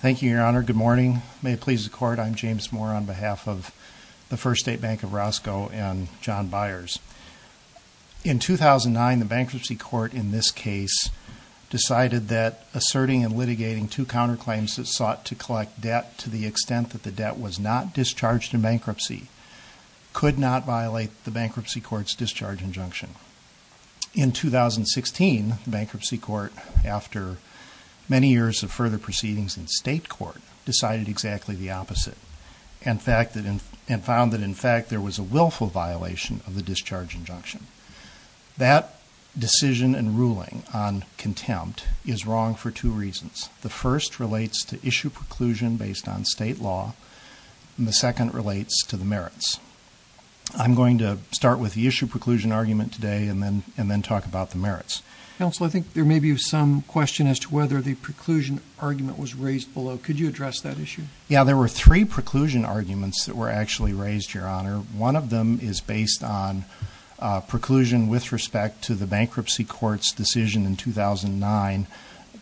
Thank you, Your Honor. Good morning. May it please the Court, I'm James Moore on behalf of the First State Bank of Roscoe and John Byers. In 2009, the Bankruptcy Court in this case decided that asserting and litigating two counterclaims that sought to collect debt to the extent that the debt was not discharged in bankruptcy could not violate the Bankruptcy Court's discharge injunction. In 2016, the Bankruptcy Court, after many years of further proceedings in state court, decided exactly the opposite and found that in fact there was a willful violation of the discharge injunction. That decision and ruling on contempt is wrong for two reasons. The first relates to issue preclusion based on state law and the second relates to the merits. I'm going to start with the issue preclusion argument today and then and then talk about the merits. Counsel, I think there may be some question as to whether the preclusion argument was raised below. Could you address that issue? Yeah, there were three preclusion arguments that were actually raised, Your Honor. One of them is based on preclusion with respect to the Bankruptcy Court's decision in 2009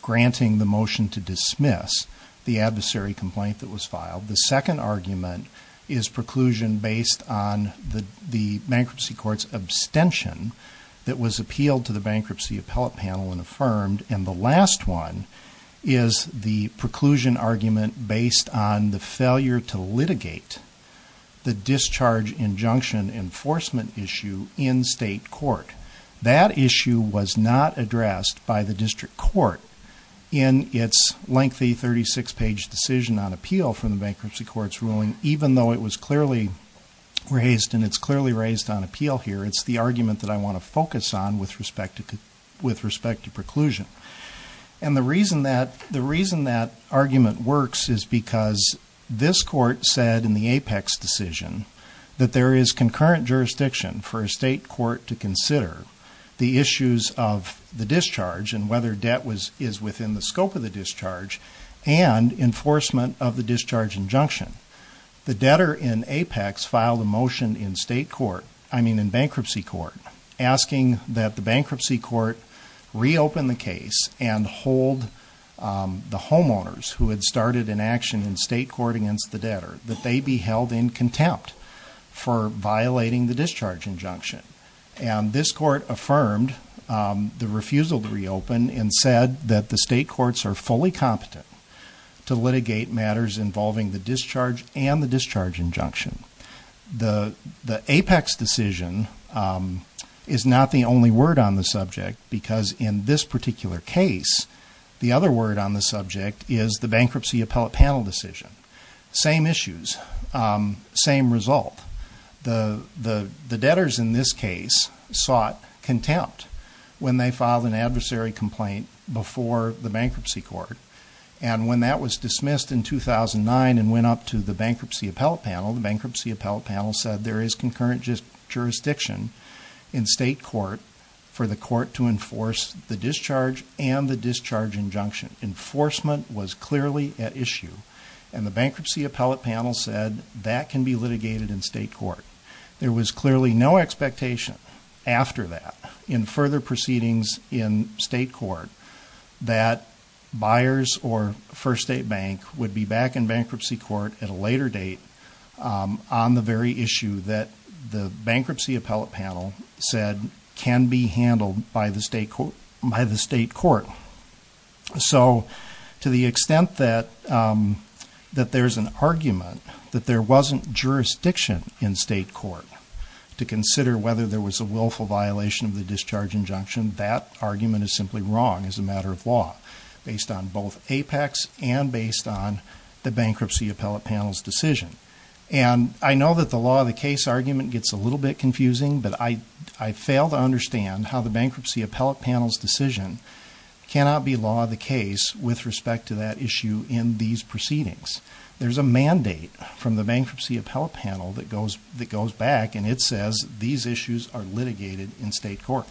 granting the motion to dismiss the adversary complaint that was filed. The Bankruptcy Court's abstention that was appealed to the bankruptcy appellate panel and affirmed. And the last one is the preclusion argument based on the failure to litigate the discharge injunction enforcement issue in state court. That issue was not addressed by the District Court in its lengthy 36 page decision on appeal from the Bankruptcy Court's ruling even though it was clearly raised and it's clearly raised on appeal here. It's the argument that I want to focus on with respect to preclusion. And the reason that argument works is because this court said in the apex decision that there is concurrent jurisdiction for a state court to consider the issues of the discharge and whether debt was is within the scope of discharge and enforcement of the discharge injunction. The debtor in Apex filed a motion in state court, I mean in Bankruptcy Court, asking that the Bankruptcy Court reopen the case and hold the homeowners who had started an action in state court against the debtor that they be held in contempt for violating the discharge injunction. And this court affirmed the refusal to fully competent to litigate matters involving the discharge and the discharge injunction. The apex decision is not the only word on the subject because in this particular case the other word on the subject is the bankruptcy appellate panel decision. Same issues, same result. The debtors in this case sought contempt when they filed an adversary complaint before the court. And when that was dismissed in 2009 and went up to the bankruptcy appellate panel, the bankruptcy appellate panel said there is concurrent jurisdiction in state court for the court to enforce the discharge and the discharge injunction. Enforcement was clearly at issue. And the bankruptcy appellate panel said that can be litigated in state court. There was clearly no expectation after that in further proceedings in state court that buyers or First State Bank would be back in bankruptcy court at a later date on the very issue that the bankruptcy appellate panel said can be handled by the state court. So to the extent that that there's an argument that there wasn't jurisdiction in state court to consider whether there was a willful violation of the discharge injunction, that argument is simply wrong as a based on both APEX and based on the bankruptcy appellate panel's decision. And I know that the law of the case argument gets a little bit confusing, but I fail to understand how the bankruptcy appellate panel's decision cannot be law of the case with respect to that issue in these proceedings. There's a mandate from the bankruptcy appellate panel that goes back and it issues are litigated in state court.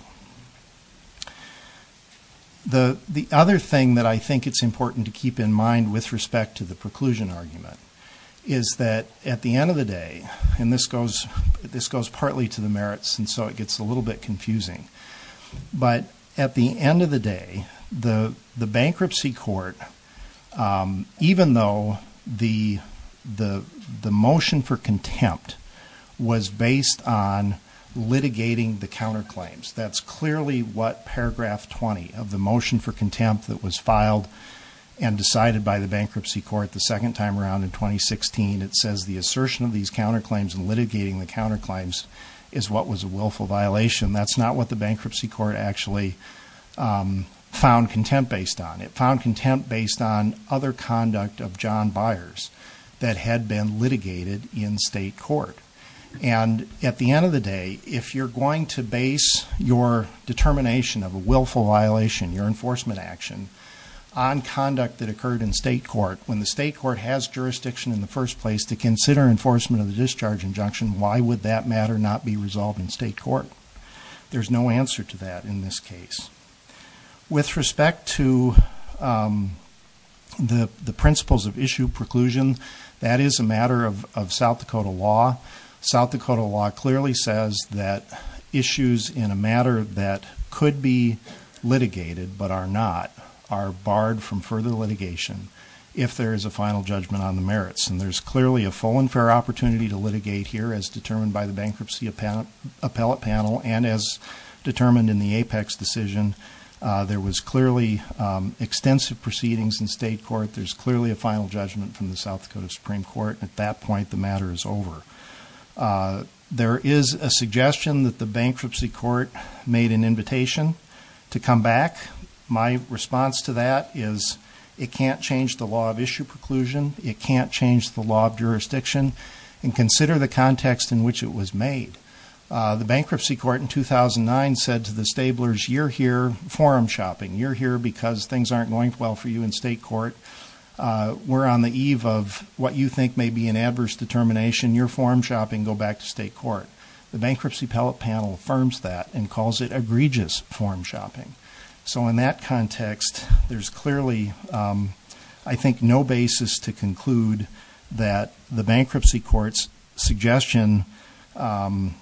The other thing that I think it's important to keep in mind with respect to the preclusion argument is that at the end of the day, and this goes partly to the merits and so it gets a little bit confusing, but at the end of the day, the bankruptcy court, even though the litigating the counterclaims, that's clearly what paragraph 20 of the motion for contempt that was filed and decided by the bankruptcy court the second time around in 2016, it says the assertion of these counterclaims and litigating the counterclaims is what was a willful violation. That's not what the bankruptcy court actually found contempt based on. It found contempt based on other conduct of John Byers that had been litigated in state court. And at the end of the day, if you're going to base your determination of a willful violation, your enforcement action, on conduct that occurred in state court, when the state court has jurisdiction in the first place to consider enforcement of the discharge injunction, why would that matter not be resolved in state court? There's no answer to that in this case. With respect to the principles of issue preclusion, that is a matter of South Dakota law. South Dakota law clearly says that issues in a matter that could be litigated, but are not, are barred from further litigation if there is a final judgment on the merits. And there's clearly a full and fair opportunity to litigate here as determined by the bankruptcy appellate panel and as determined in the apex decision. There was clearly extensive proceedings in state court. There's clearly a final judgment from the South Dakota Supreme Court. At that point, the matter is over. There is a suggestion that the bankruptcy court made an invitation to come back. My response to that is, it can't change the law of issue preclusion. It can't change the law of jurisdiction. And consider the context in which it was made. The bankruptcy court in 2009 said to the stablers, you're here forum shopping. You're here because things aren't going well for you in state court. We're on the eve of what you think may be an adverse determination. You're forum shopping. Go back to state court. The bankruptcy appellate panel affirms that and calls it egregious forum shopping. So in that context, there's clearly, um, I think no basis to conclude that the bankruptcy court's suggestion, um,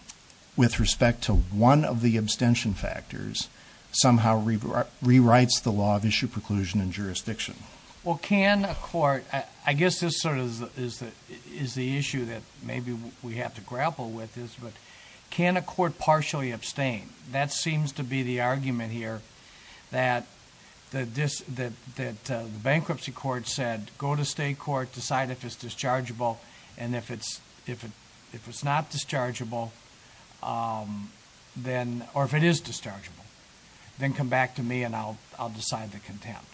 with respect to one of the abstention factors somehow re re writes the law of issue preclusion and jurisdiction. Well, can a court, I guess this sort of is the issue that maybe we have to grapple with this, but can a court partially abstain? That seems to be the argument here that the bankruptcy court said, go to state court, decide if it's dischargeable and if it's not dischargeable, um, then, or if it is dischargeable, then come back to me and I'll decide the contempt.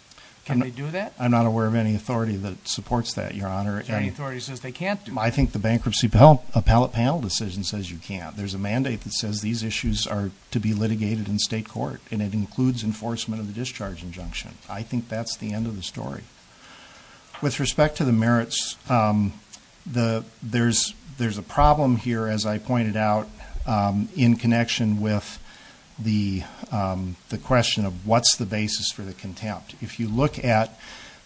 Can they do that? I'm not aware of any authority that supports that. Your honor, any authority says they can't do. I think the bankruptcy appellate panel decision says you can't. There's a mandate that says these issues are to be litigated in state court and it includes enforcement of the discharge injunction. I think that's the end of the story with respect to the merits. Um, the, there's, there's a problem here, as I pointed out, um, in connection with the, um, the question of what's the basis for the contempt. If you look at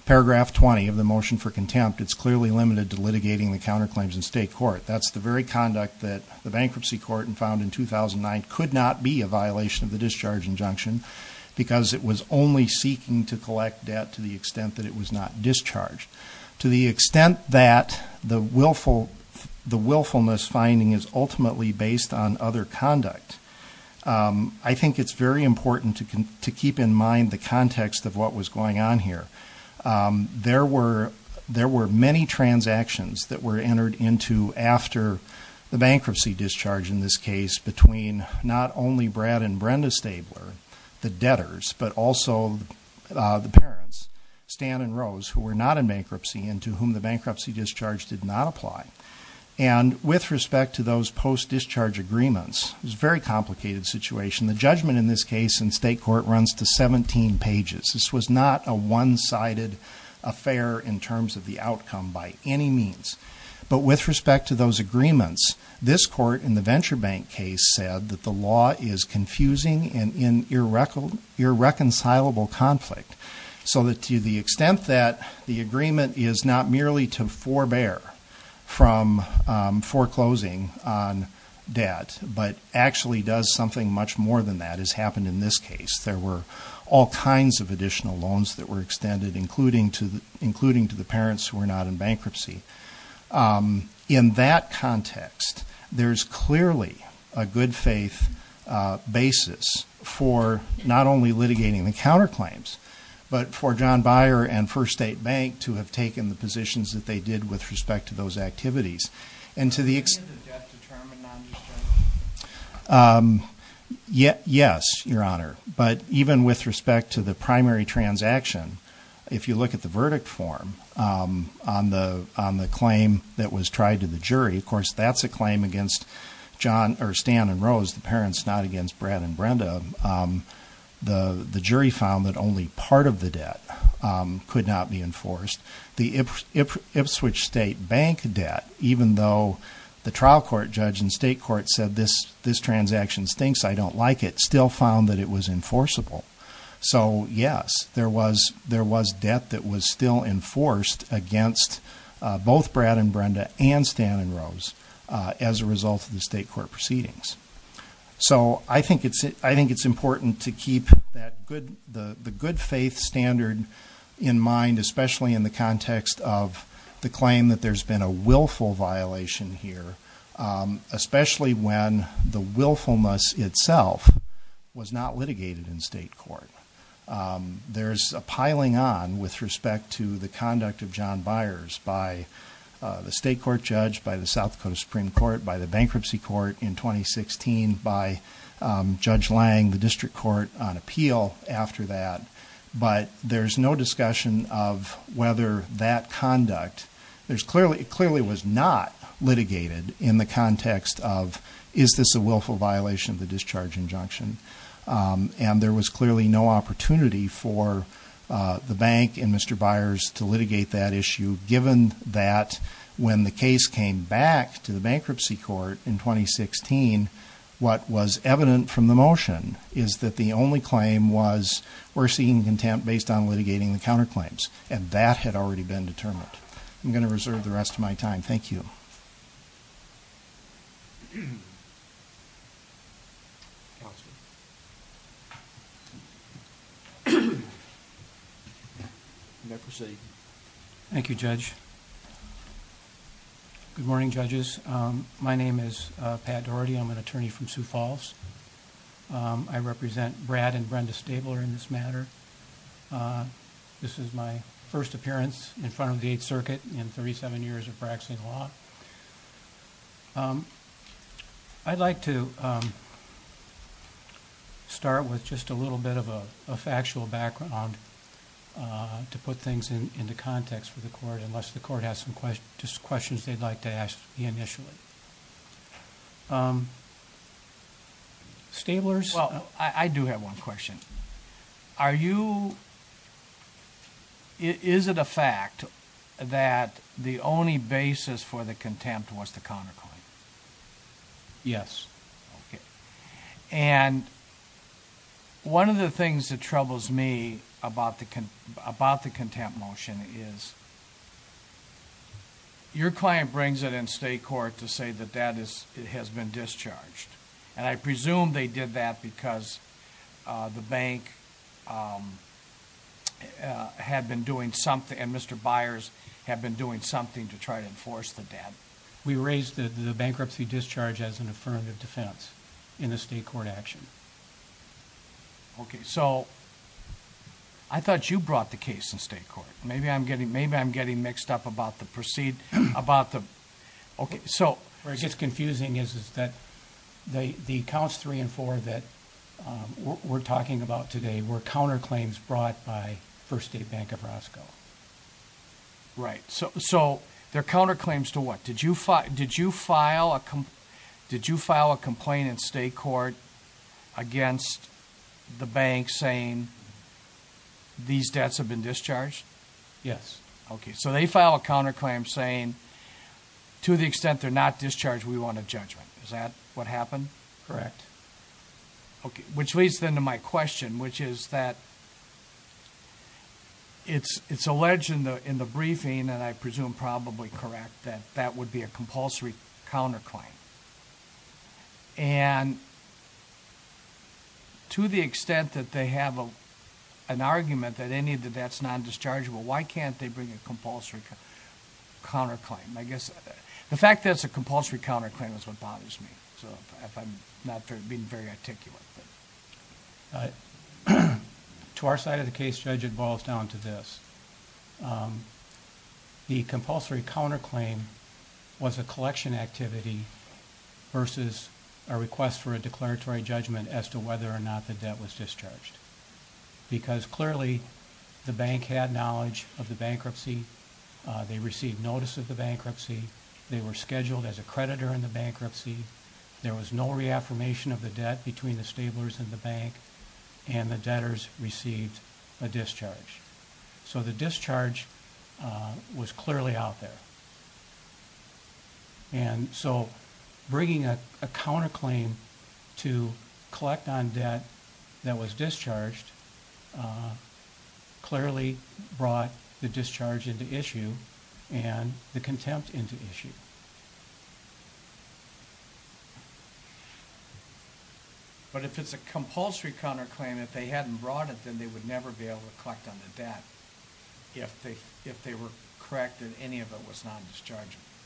paragraph 20 of the motion for contempt, it's clearly limited to litigating the counterclaims in state court. That's the very conduct that the bankruptcy court found in 2009 could not be a violation of the discharge injunction because it was only seeking to collect debt to the extent that it was not discharged. To the extent that the willful, the willfulness finding is ultimately based on other conduct. Um, I think it's very important to keep in mind the context of what was going on here. Um, there were, there were many transactions that were entered into after the bankruptcy discharge in this case between not only Brad and Brenda Stabler, the debtors, but also, uh, the parents, Stan and Rose, who were not in bankruptcy and to whom the bankruptcy discharge did not apply. And with respect to those post discharge agreements, it was a very complicated situation. The judgment in this case in state court runs to 17 pages. This was not a one sided affair in terms of the outcome by any means. But with respect to those agreements, this court in the venture bank case said that the law is confusing and in irreconcilable conflict so that to the extent that the agreement is not merely to forbear from foreclosing on debt, but actually does something much more than that has happened in this case. There were all kinds of additional loans that were extended, including to the, including to the parents who were not in bankruptcy. Um, in that context, there's clearly a good faith, uh, basis for not only litigating the counterclaims, but for John Beyer and First State Bank to have taken the positions that they did with respect to those activities. And to the extent, um, yeah, yes, your honor. But even with respect to the primary transaction, if you look at the verdict form, um, on the, on the claim that was tried to the jury, of course, that's a claim against John or Stan and Rose, the parents not against Brad and Brenda. Um, the jury found that only part of the debt, um, could not be enforced. The Ipswich State Bank debt, even though the trial court judge and state court said this, this transaction stinks, I don't like it, still found that it was enforceable. So yes, there was, there was debt that was still enforced against, uh, both Brad and Brenda and Stan and Rose, uh, as a result of the state court proceedings. So I think it's, I think it's important to keep that good, the context of the claim that there's been a willful violation here. Um, especially when the willfulness itself was not litigated in state court. Um, there's a piling on with respect to the conduct of John Byers by, uh, the state court judge, by the South Dakota Supreme Court, by the bankruptcy court in 2016, by, um, judge Lang, the district court on appeal after that. But there's no discussion of whether that conduct there's clearly, it clearly was not litigated in the context of, is this a willful violation of the discharge injunction? Um, and there was clearly no opportunity for, uh, the bank and Mr. Byers to litigate that issue, given that when the case came back to the bankruptcy court in 2016, what was evident from the motion is that the only claim was, we're seeking contempt based on litigating the counterclaims and that had already been determined. I'm going to reserve the rest of my time. Thank you. Thank you judge. Good morning judges. Um, my name is, uh, Pat Doherty. I'm an attorney from Sioux Falls. Um, I represent Brad and Brenda Stabler in this matter. Uh, this is my first appearance in front of the eighth circuit in 37 years of practicing law. Um, I'd like to, um, start with just a little bit of a factual background, uh, to put things in, in the context for the court, unless the court has some questions, just questions they'd like to ask the initially. Um, Stabler's. Well, I do have one question. Are you, is it a fact that the only basis for the contempt was the counterclaim? Yes. Okay. And one of the things that troubles me about the, about the contempt motion is your client brings it in state court to say that that is, it has been discharged. And I presume they did that because, uh, the bank, um, uh, had been doing something and Mr. Byers had been doing something to try to enforce the debt. We raised the bankruptcy discharge as an affirmative defense in the state court action. Okay. So I thought you brought the case in state court. Maybe I'm getting mixed up about the proceed about the, okay. So where it gets confusing is, is that the, the counts three and four that, um, we're talking about today were counterclaims brought by first aid bank of Roscoe. Right. So, so they're counterclaims to what did you fight? Did you file a complaint? Did you file a complaint in state court against the bank saying these debts have been discharged? Yes. Okay. So they file a counterclaim saying to the extent they're not discharged, we want a judgment. Is that what happened? Correct. Okay. Which leads then to my question, which is that it's, it's alleged in the, in the briefing and I presume probably correct that that would be a compulsory counterclaim and to the extent that they have a, an argument that any of the that's non-dischargeable, why can't they bring a compulsory counterclaim? I guess the fact that it's a compulsory counterclaim is what bothers me. So if I'm not being very articulate, but to our side of the case judge, it boils down to this. Um, the compulsory counterclaim was a collection activity versus a request for a declaratory judgment as to whether or not the debt was discharged. Because clearly the bank had knowledge of the bankruptcy. Uh, they received notice of the bankruptcy. They were scheduled as a creditor in the bankruptcy. There was no reaffirmation of the debt between the stablers and the bank and the debtors received a discharge. So the discharge, uh, was clearly out there. And so bringing a counterclaim to collect on debt that was discharged, uh, clearly brought the discharge into issue and the contempt into issue. But if it's a compulsory counterclaim, if they hadn't brought it, then they would never be able to collect on the debt. If they, if they were corrected, any of it was non-dischargeable. Yeah.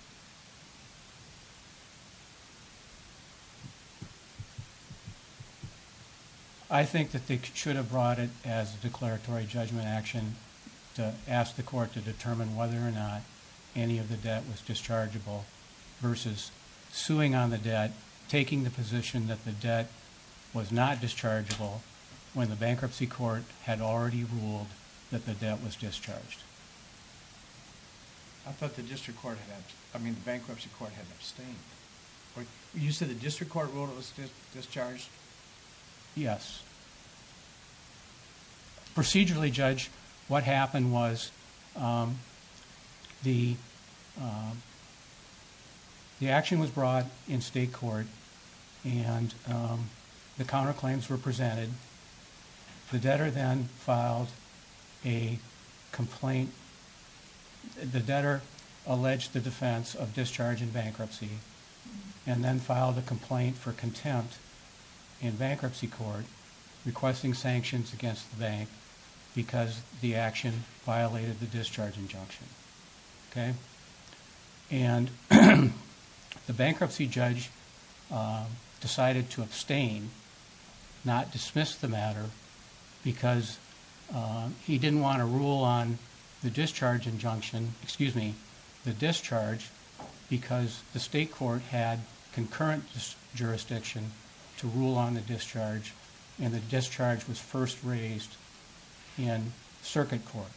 I think that they should have brought it as a declaratory judgment action to ask the court to determine whether or not any of the debt was dischargeable versus suing on the debt, taking the position that the debt was not dischargeable when the bankruptcy court had already ruled that the debt was discharged. I thought the district court had, I mean, the bankruptcy court had abstained. You said the district court ruled it was discharged? Procedurally, Judge, what happened was, um, the, um, the action was brought in state court and, um, the counterclaims were presented. The debtor then filed a complaint. The debtor alleged the defense of discharge in bankruptcy and then filed a complaint for contempt in bankruptcy court requesting sanctions against the bank because the action violated the discharge injunction. Okay. And the bankruptcy judge, um, decided to abstain, not dismiss the matter because, um, he didn't want to rule on the discharge injunction, excuse me, the discharge because the state court had concurrent jurisdiction to rule on the discharge and the discharge was first raised in circuit court.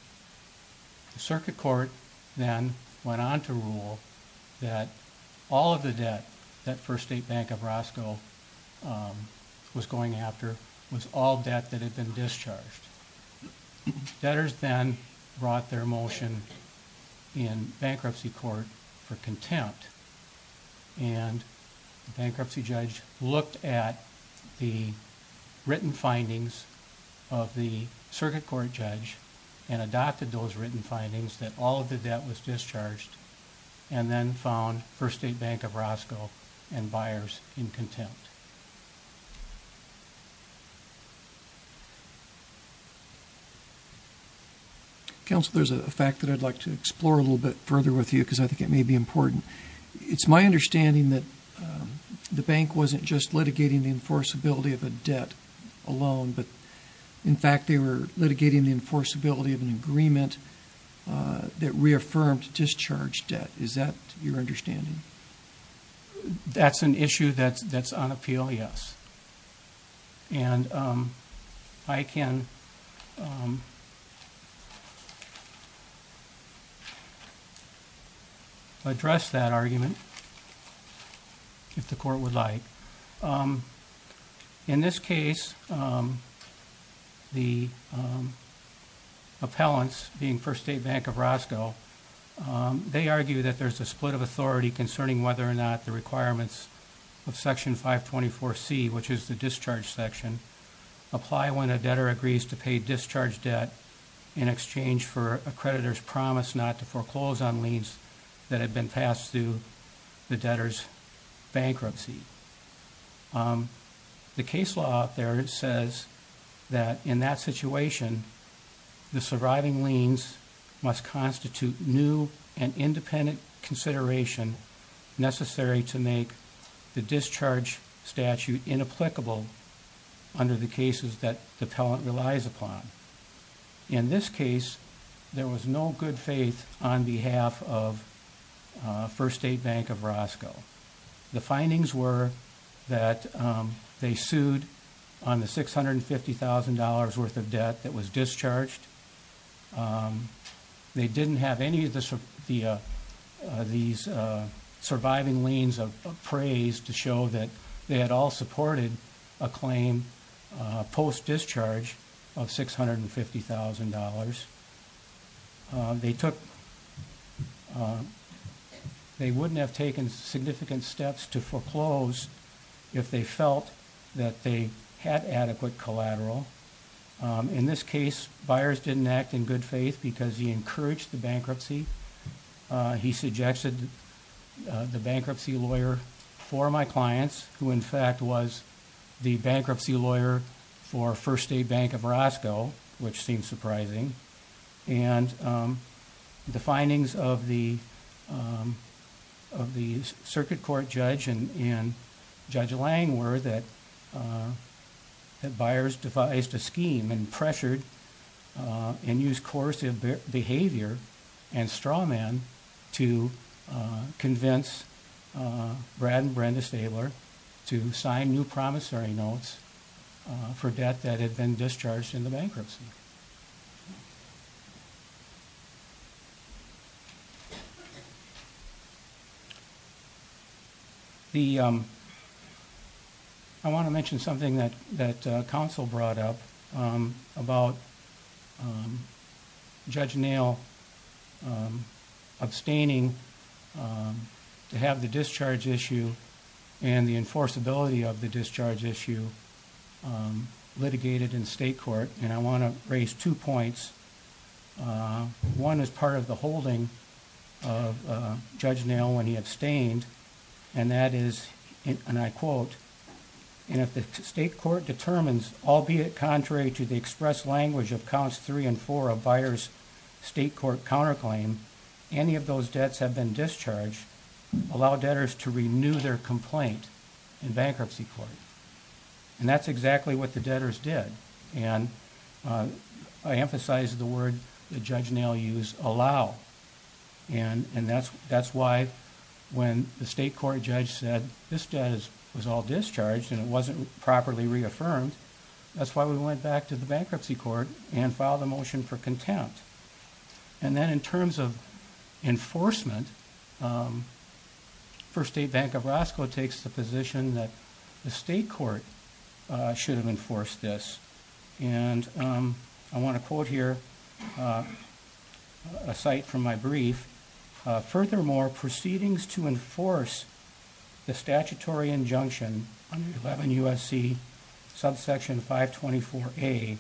The circuit court then went on to rule that all of the debt that first state bank of Roscoe, um, was going after was all debt that had been discharged. Debtors then brought their motion in bankruptcy court for contempt and the bankruptcy judge looked at the written findings of the circuit court judge and adopted those written findings that all of the debt was discharged and then found first state bank of Roscoe and buyers in contempt. Council, there's a fact that I'd like to explore a little bit further with you because I think it may be important. It's my understanding that, um, the bank wasn't just litigating the enforceability of a debt alone, but in fact, they were litigating the enforceability of an agreement, uh, that you're understanding. That's an issue that's, that's on appeal. Yes. And, um, I can, um, address that argument if the court would like. Um, in this case, um, the, um, appellants being first state bank of Roscoe, um, they argue that there's a split of authority concerning whether or not the requirements of section 5 24 C, which is the discharge section, apply when a debtor agrees to pay discharge debt in exchange for a creditor's promise not to foreclose on liens that had been passed through the debtors bankruptcy. Um, the case law out there says that in that situation, the surviving liens must constitute new and independent consideration necessary to make the discharge statute inapplicable under the cases that the pellet relies upon. In this case, there was no good faith on behalf of, uh, first state bank of Roscoe. The findings were that, um, they worth of debt that was discharged. Um, they didn't have any of the, uh, uh, these, uh, surviving liens of praise to show that they had all supported a claim, uh, post discharge of $650,000. Um, they took, um, they wouldn't have taken significant steps to foreclose if they felt that they had adequate collateral. Um, in this case, buyers didn't act in good faith because he encouraged the bankruptcy. Uh, he suggested the bankruptcy lawyer for my clients, who, in fact, was the bankruptcy lawyer for first a bank of Roscoe, which seems surprising. And, um, the findings of the, um, of the circuit court judge and Judge Lang were that, uh, that buyers devised a scheme and pressured, uh, and use coercive behavior and straw man to convince, uh, Brad and Brenda Stabler to sign new promissory notes for debt that had been discharged in the bankruptcy. The, um, I want to mention something that that council brought up about, um, Judge Nail, um, abstaining, um, to have the discharge issue and the enforceability of the discharge issue, um, litigated in state court. And I want to raise two and that is, and I quote, and if the state court determines, albeit contrary to the express language of counts three and four of buyers, state court counterclaim, any of those debts have been discharged, allow debtors to renew their complaint in bankruptcy court. And that's exactly what the debtors did. And, uh, I emphasize the word the judge now use allow. And, and that's, that's why when the state court judge said this debt is, was all discharged and it wasn't properly reaffirmed. That's why we went back to the bankruptcy court and filed a motion for contempt. And then in terms of enforcement, um, for state bank of Roscoe takes the position that the state court, uh, should have enforced this. And, um, I want to quote here, uh, a site from my brief, uh, furthermore proceedings to enforce the statutory injunction under 11 USC subsection five 24 a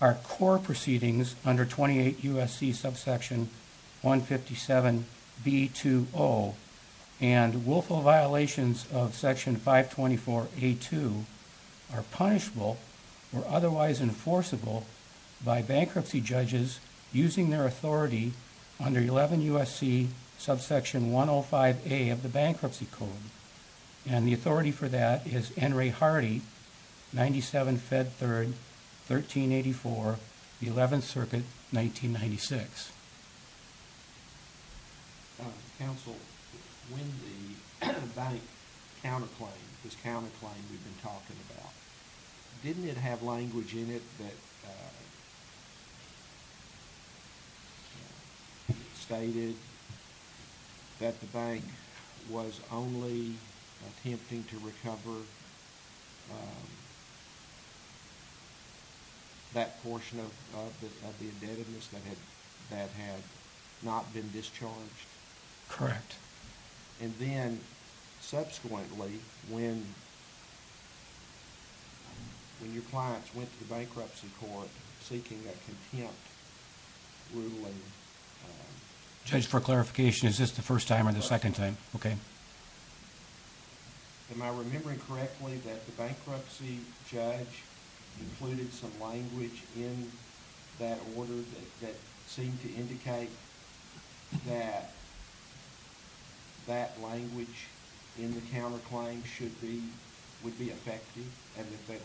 our core proceedings under 28 USC subsection one 57 B two O and willful violations of section five 24 a two are punishable or otherwise enforceable by bankruptcy judges using their authority under 11 USC subsection one oh five a of the bankruptcy code. And the authority for that is Henry Hardy, 97 fed third, 1384, the 11th circuit, 1996. Counsel when the bank counterclaim this counterclaim we've been talking about, didn't it have language in it that, uh, yeah, stated that the bank was only attempting to recover. That portion of the indebtedness that had that had not been discharged. Correct. And then subsequently, when yeah, when your clients went to bankruptcy court seeking that contempt ruling judge for clarification, is this the first time or the second time? Okay. Am I remembering correctly that the bankruptcy judge included some language in that order that seemed to indicate that that language in the counterclaim should be would be effective and that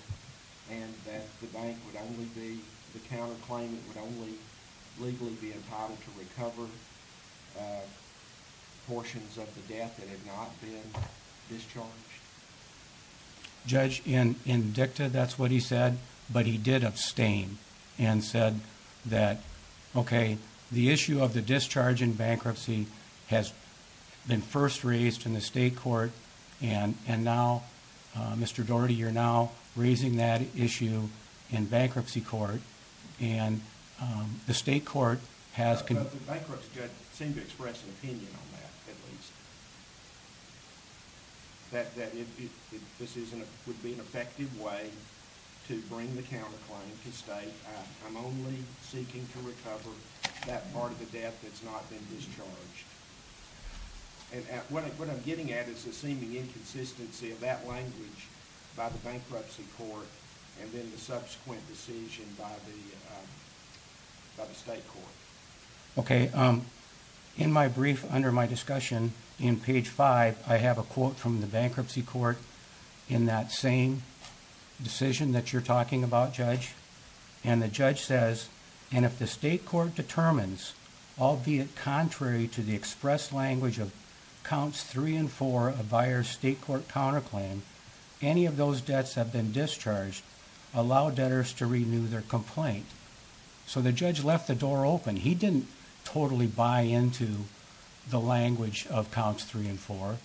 and that the bank would only be the counterclaim. It would only legally be entitled to recover portions of the death that had not been discharged. Judge in in dicta. That's what he said. But he did abstain and said that, okay, the issue of the discharge in bankruptcy has been first raised in the state court. And and now, uh, Mr Daugherty, you're now raising that issue in bankruptcy court. And, um, the state court has bankruptcy judge seemed to express an opinion on that, at least that that this isn't would be an effective way to bring the counterclaim to stay. I'm only seeking to recover that part of the death that's not been discharged. And what I'm getting at is a seeming inconsistency of that language about the bankruptcy court and then the subsequent decision by the by the state court. Okay. Um, in my brief under my discussion in page five, I have a quote from the bankruptcy court in that same decision that you're talking about, Judge. And the judge says, and if the state court determines, albeit contrary to the express language of counts three and four of buyer state court counterclaim, any of those debts have been discharged, allow debtors to renew their complaint. So the judge left the door open. He didn't totally buy into the language of counts three and four.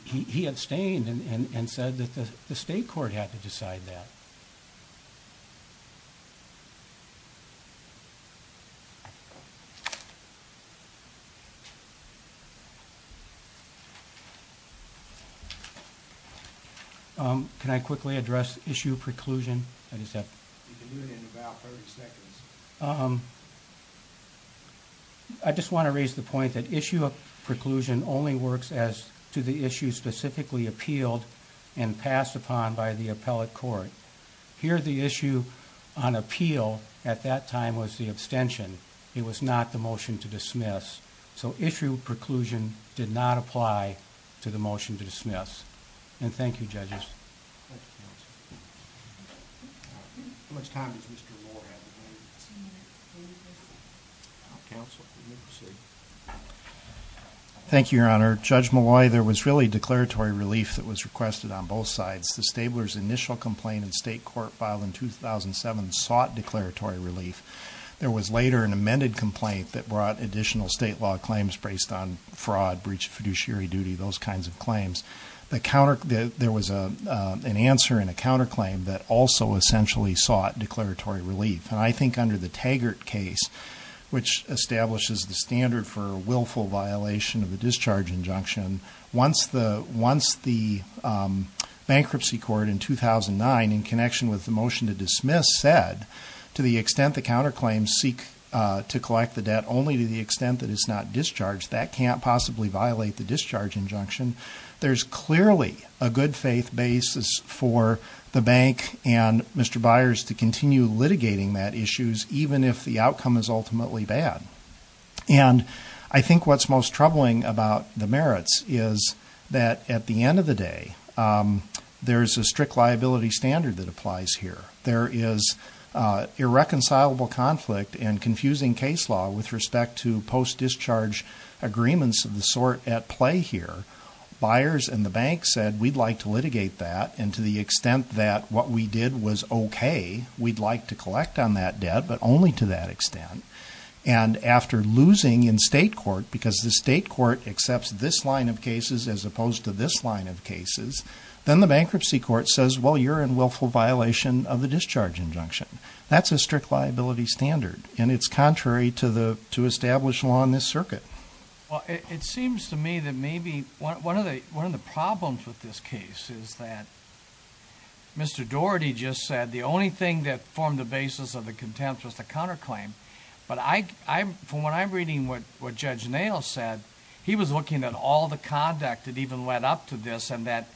He abstained and said that the yeah. Um, can I quickly address issue preclusion? I just have um, I just want to raise the point that issue of preclusion only works as to the issue specifically appealed and passed upon by the appellate court here. The issue on appeal at that time was the abstention. It was not the motion to dismiss. So issue of preclusion did not apply to the motion to dismiss. And thank you judges. How much time does Mr Moore have? Council. Okay. Thank you, Your Honor. Judge Malloy, there was really declaratory relief that was requested on both sides. The stablers initial complaint in state court file in 2007 sought declaratory relief. There was later an amended complaint that brought additional state law claims based on fraud, breach of fiduciary duty, those kinds of claims. The counter, there was a, uh, an answer in a counterclaim that also essentially sought declaratory relief. And I think under the Taggart case, which establishes the standard for willful violation of the discharge injunction. Once the, once the bankruptcy court in 2009 in connection with the motion to dismiss said to the extent the counterclaims seek to collect the debt only to the extent that it's not discharged, that can't possibly violate the discharge injunction. There's clearly a good faith basis for the bank and Mr Byers to continue litigating that issues even if the outcome is ultimately bad. And I think what's most troubling about the merits is that at the end of the day, um, there's a strict liability standard that applies here. There is, uh, irreconcilable conflict and confusing case law with respect to post discharge agreements of the sort at play here. Byers and the bank said, we'd like to litigate that. And to the extent that what we did was okay, we'd like to collect on that debt, but only to that extent. And after losing in state court, because the state court accepts this line of cases as opposed to this line of cases, then the bankruptcy court says, well, you're in willful violation of the discharge injunction. That's a strict liability standard and it's contrary to the, to establish law in this circuit. Well, it seems to me that maybe one of the, one of the problems with this case is that Mr. Doherty just said the only thing that formed the basis of the contempt was the counterclaim. But I, I, from what I'm reading, what, what judge nail said, he was looking at all the conduct that even led up to this and that,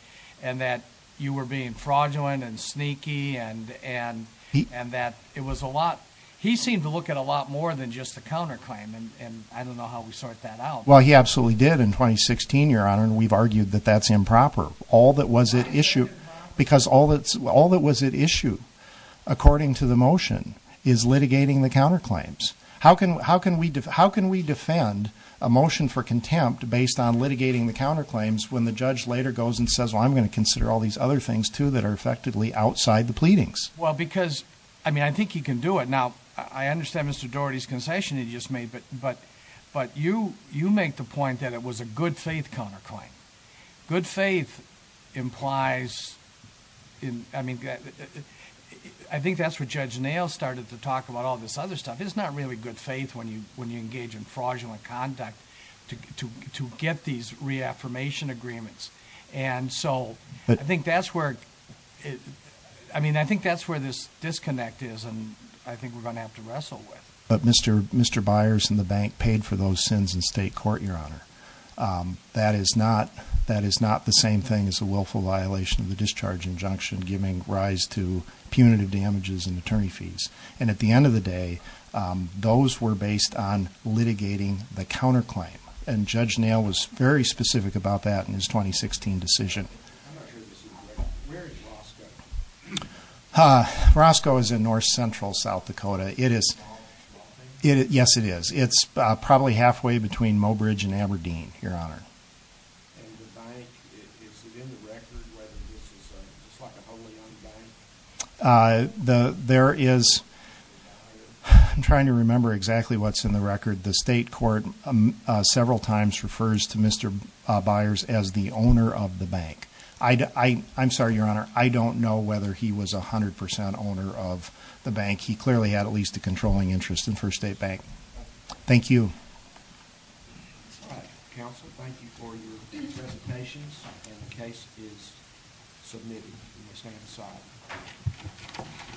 and that you were being fraudulent and sneaky and, and, and that it was a lot, he seemed to look at a lot more than just the counterclaim. And, and I don't know how we sort that out. Well, he absolutely did in 2016, your honor. And we've argued that that's improper. All that was at issue, because all that's, all that was at issue according to the motion is litigating the counterclaims. How can, how can we, how can we defend a motion for contempt based on litigating the counterclaims when the judge later goes and says, well, I'm going to consider all these other things too, that are effectively outside the pleadings. Well, because, I mean, I think he can do it now. I understand Mr. Doherty's concession he just made, but, but, but you, you make the point that it was a good faith counterclaim. Good faith implies in, I mean, I think that's where Judge Nail started to talk about all this other stuff. It's not really good faith when you, when you engage in fraudulent conduct to, to, to get these reaffirmation agreements. And so I think that's where it, I mean, I think that's where this disconnect is and I think we're going to have to wrestle with. But Mr., Mr. Byers and the bank paid for those sins in state court, your honor. Um, that is not, that is not the same thing as a willful violation of the discharge injunction, giving rise to punitive damages and attorney fees. And at the end of the day, um, those were based on litigating the counterclaim and Judge Nail was very specific about that in his 2016 decision. Uh, Roscoe is in North Central South Dakota. It is, yes it is. It's probably halfway between Mobridge and Aberdeen, your honor. Uh, the, there is, I'm trying to remember exactly what's in the record. The state court, um, uh, several times refers to Mr. Byers as the owner of the bank. I, I, I'm sorry, your honor. I don't know whether he was 100% owner of the bank. He clearly had at least a controlling interest in First State bank. Thank you. It's all right. Counsel, thank you for your presentations and the case is submitted. Stand aside.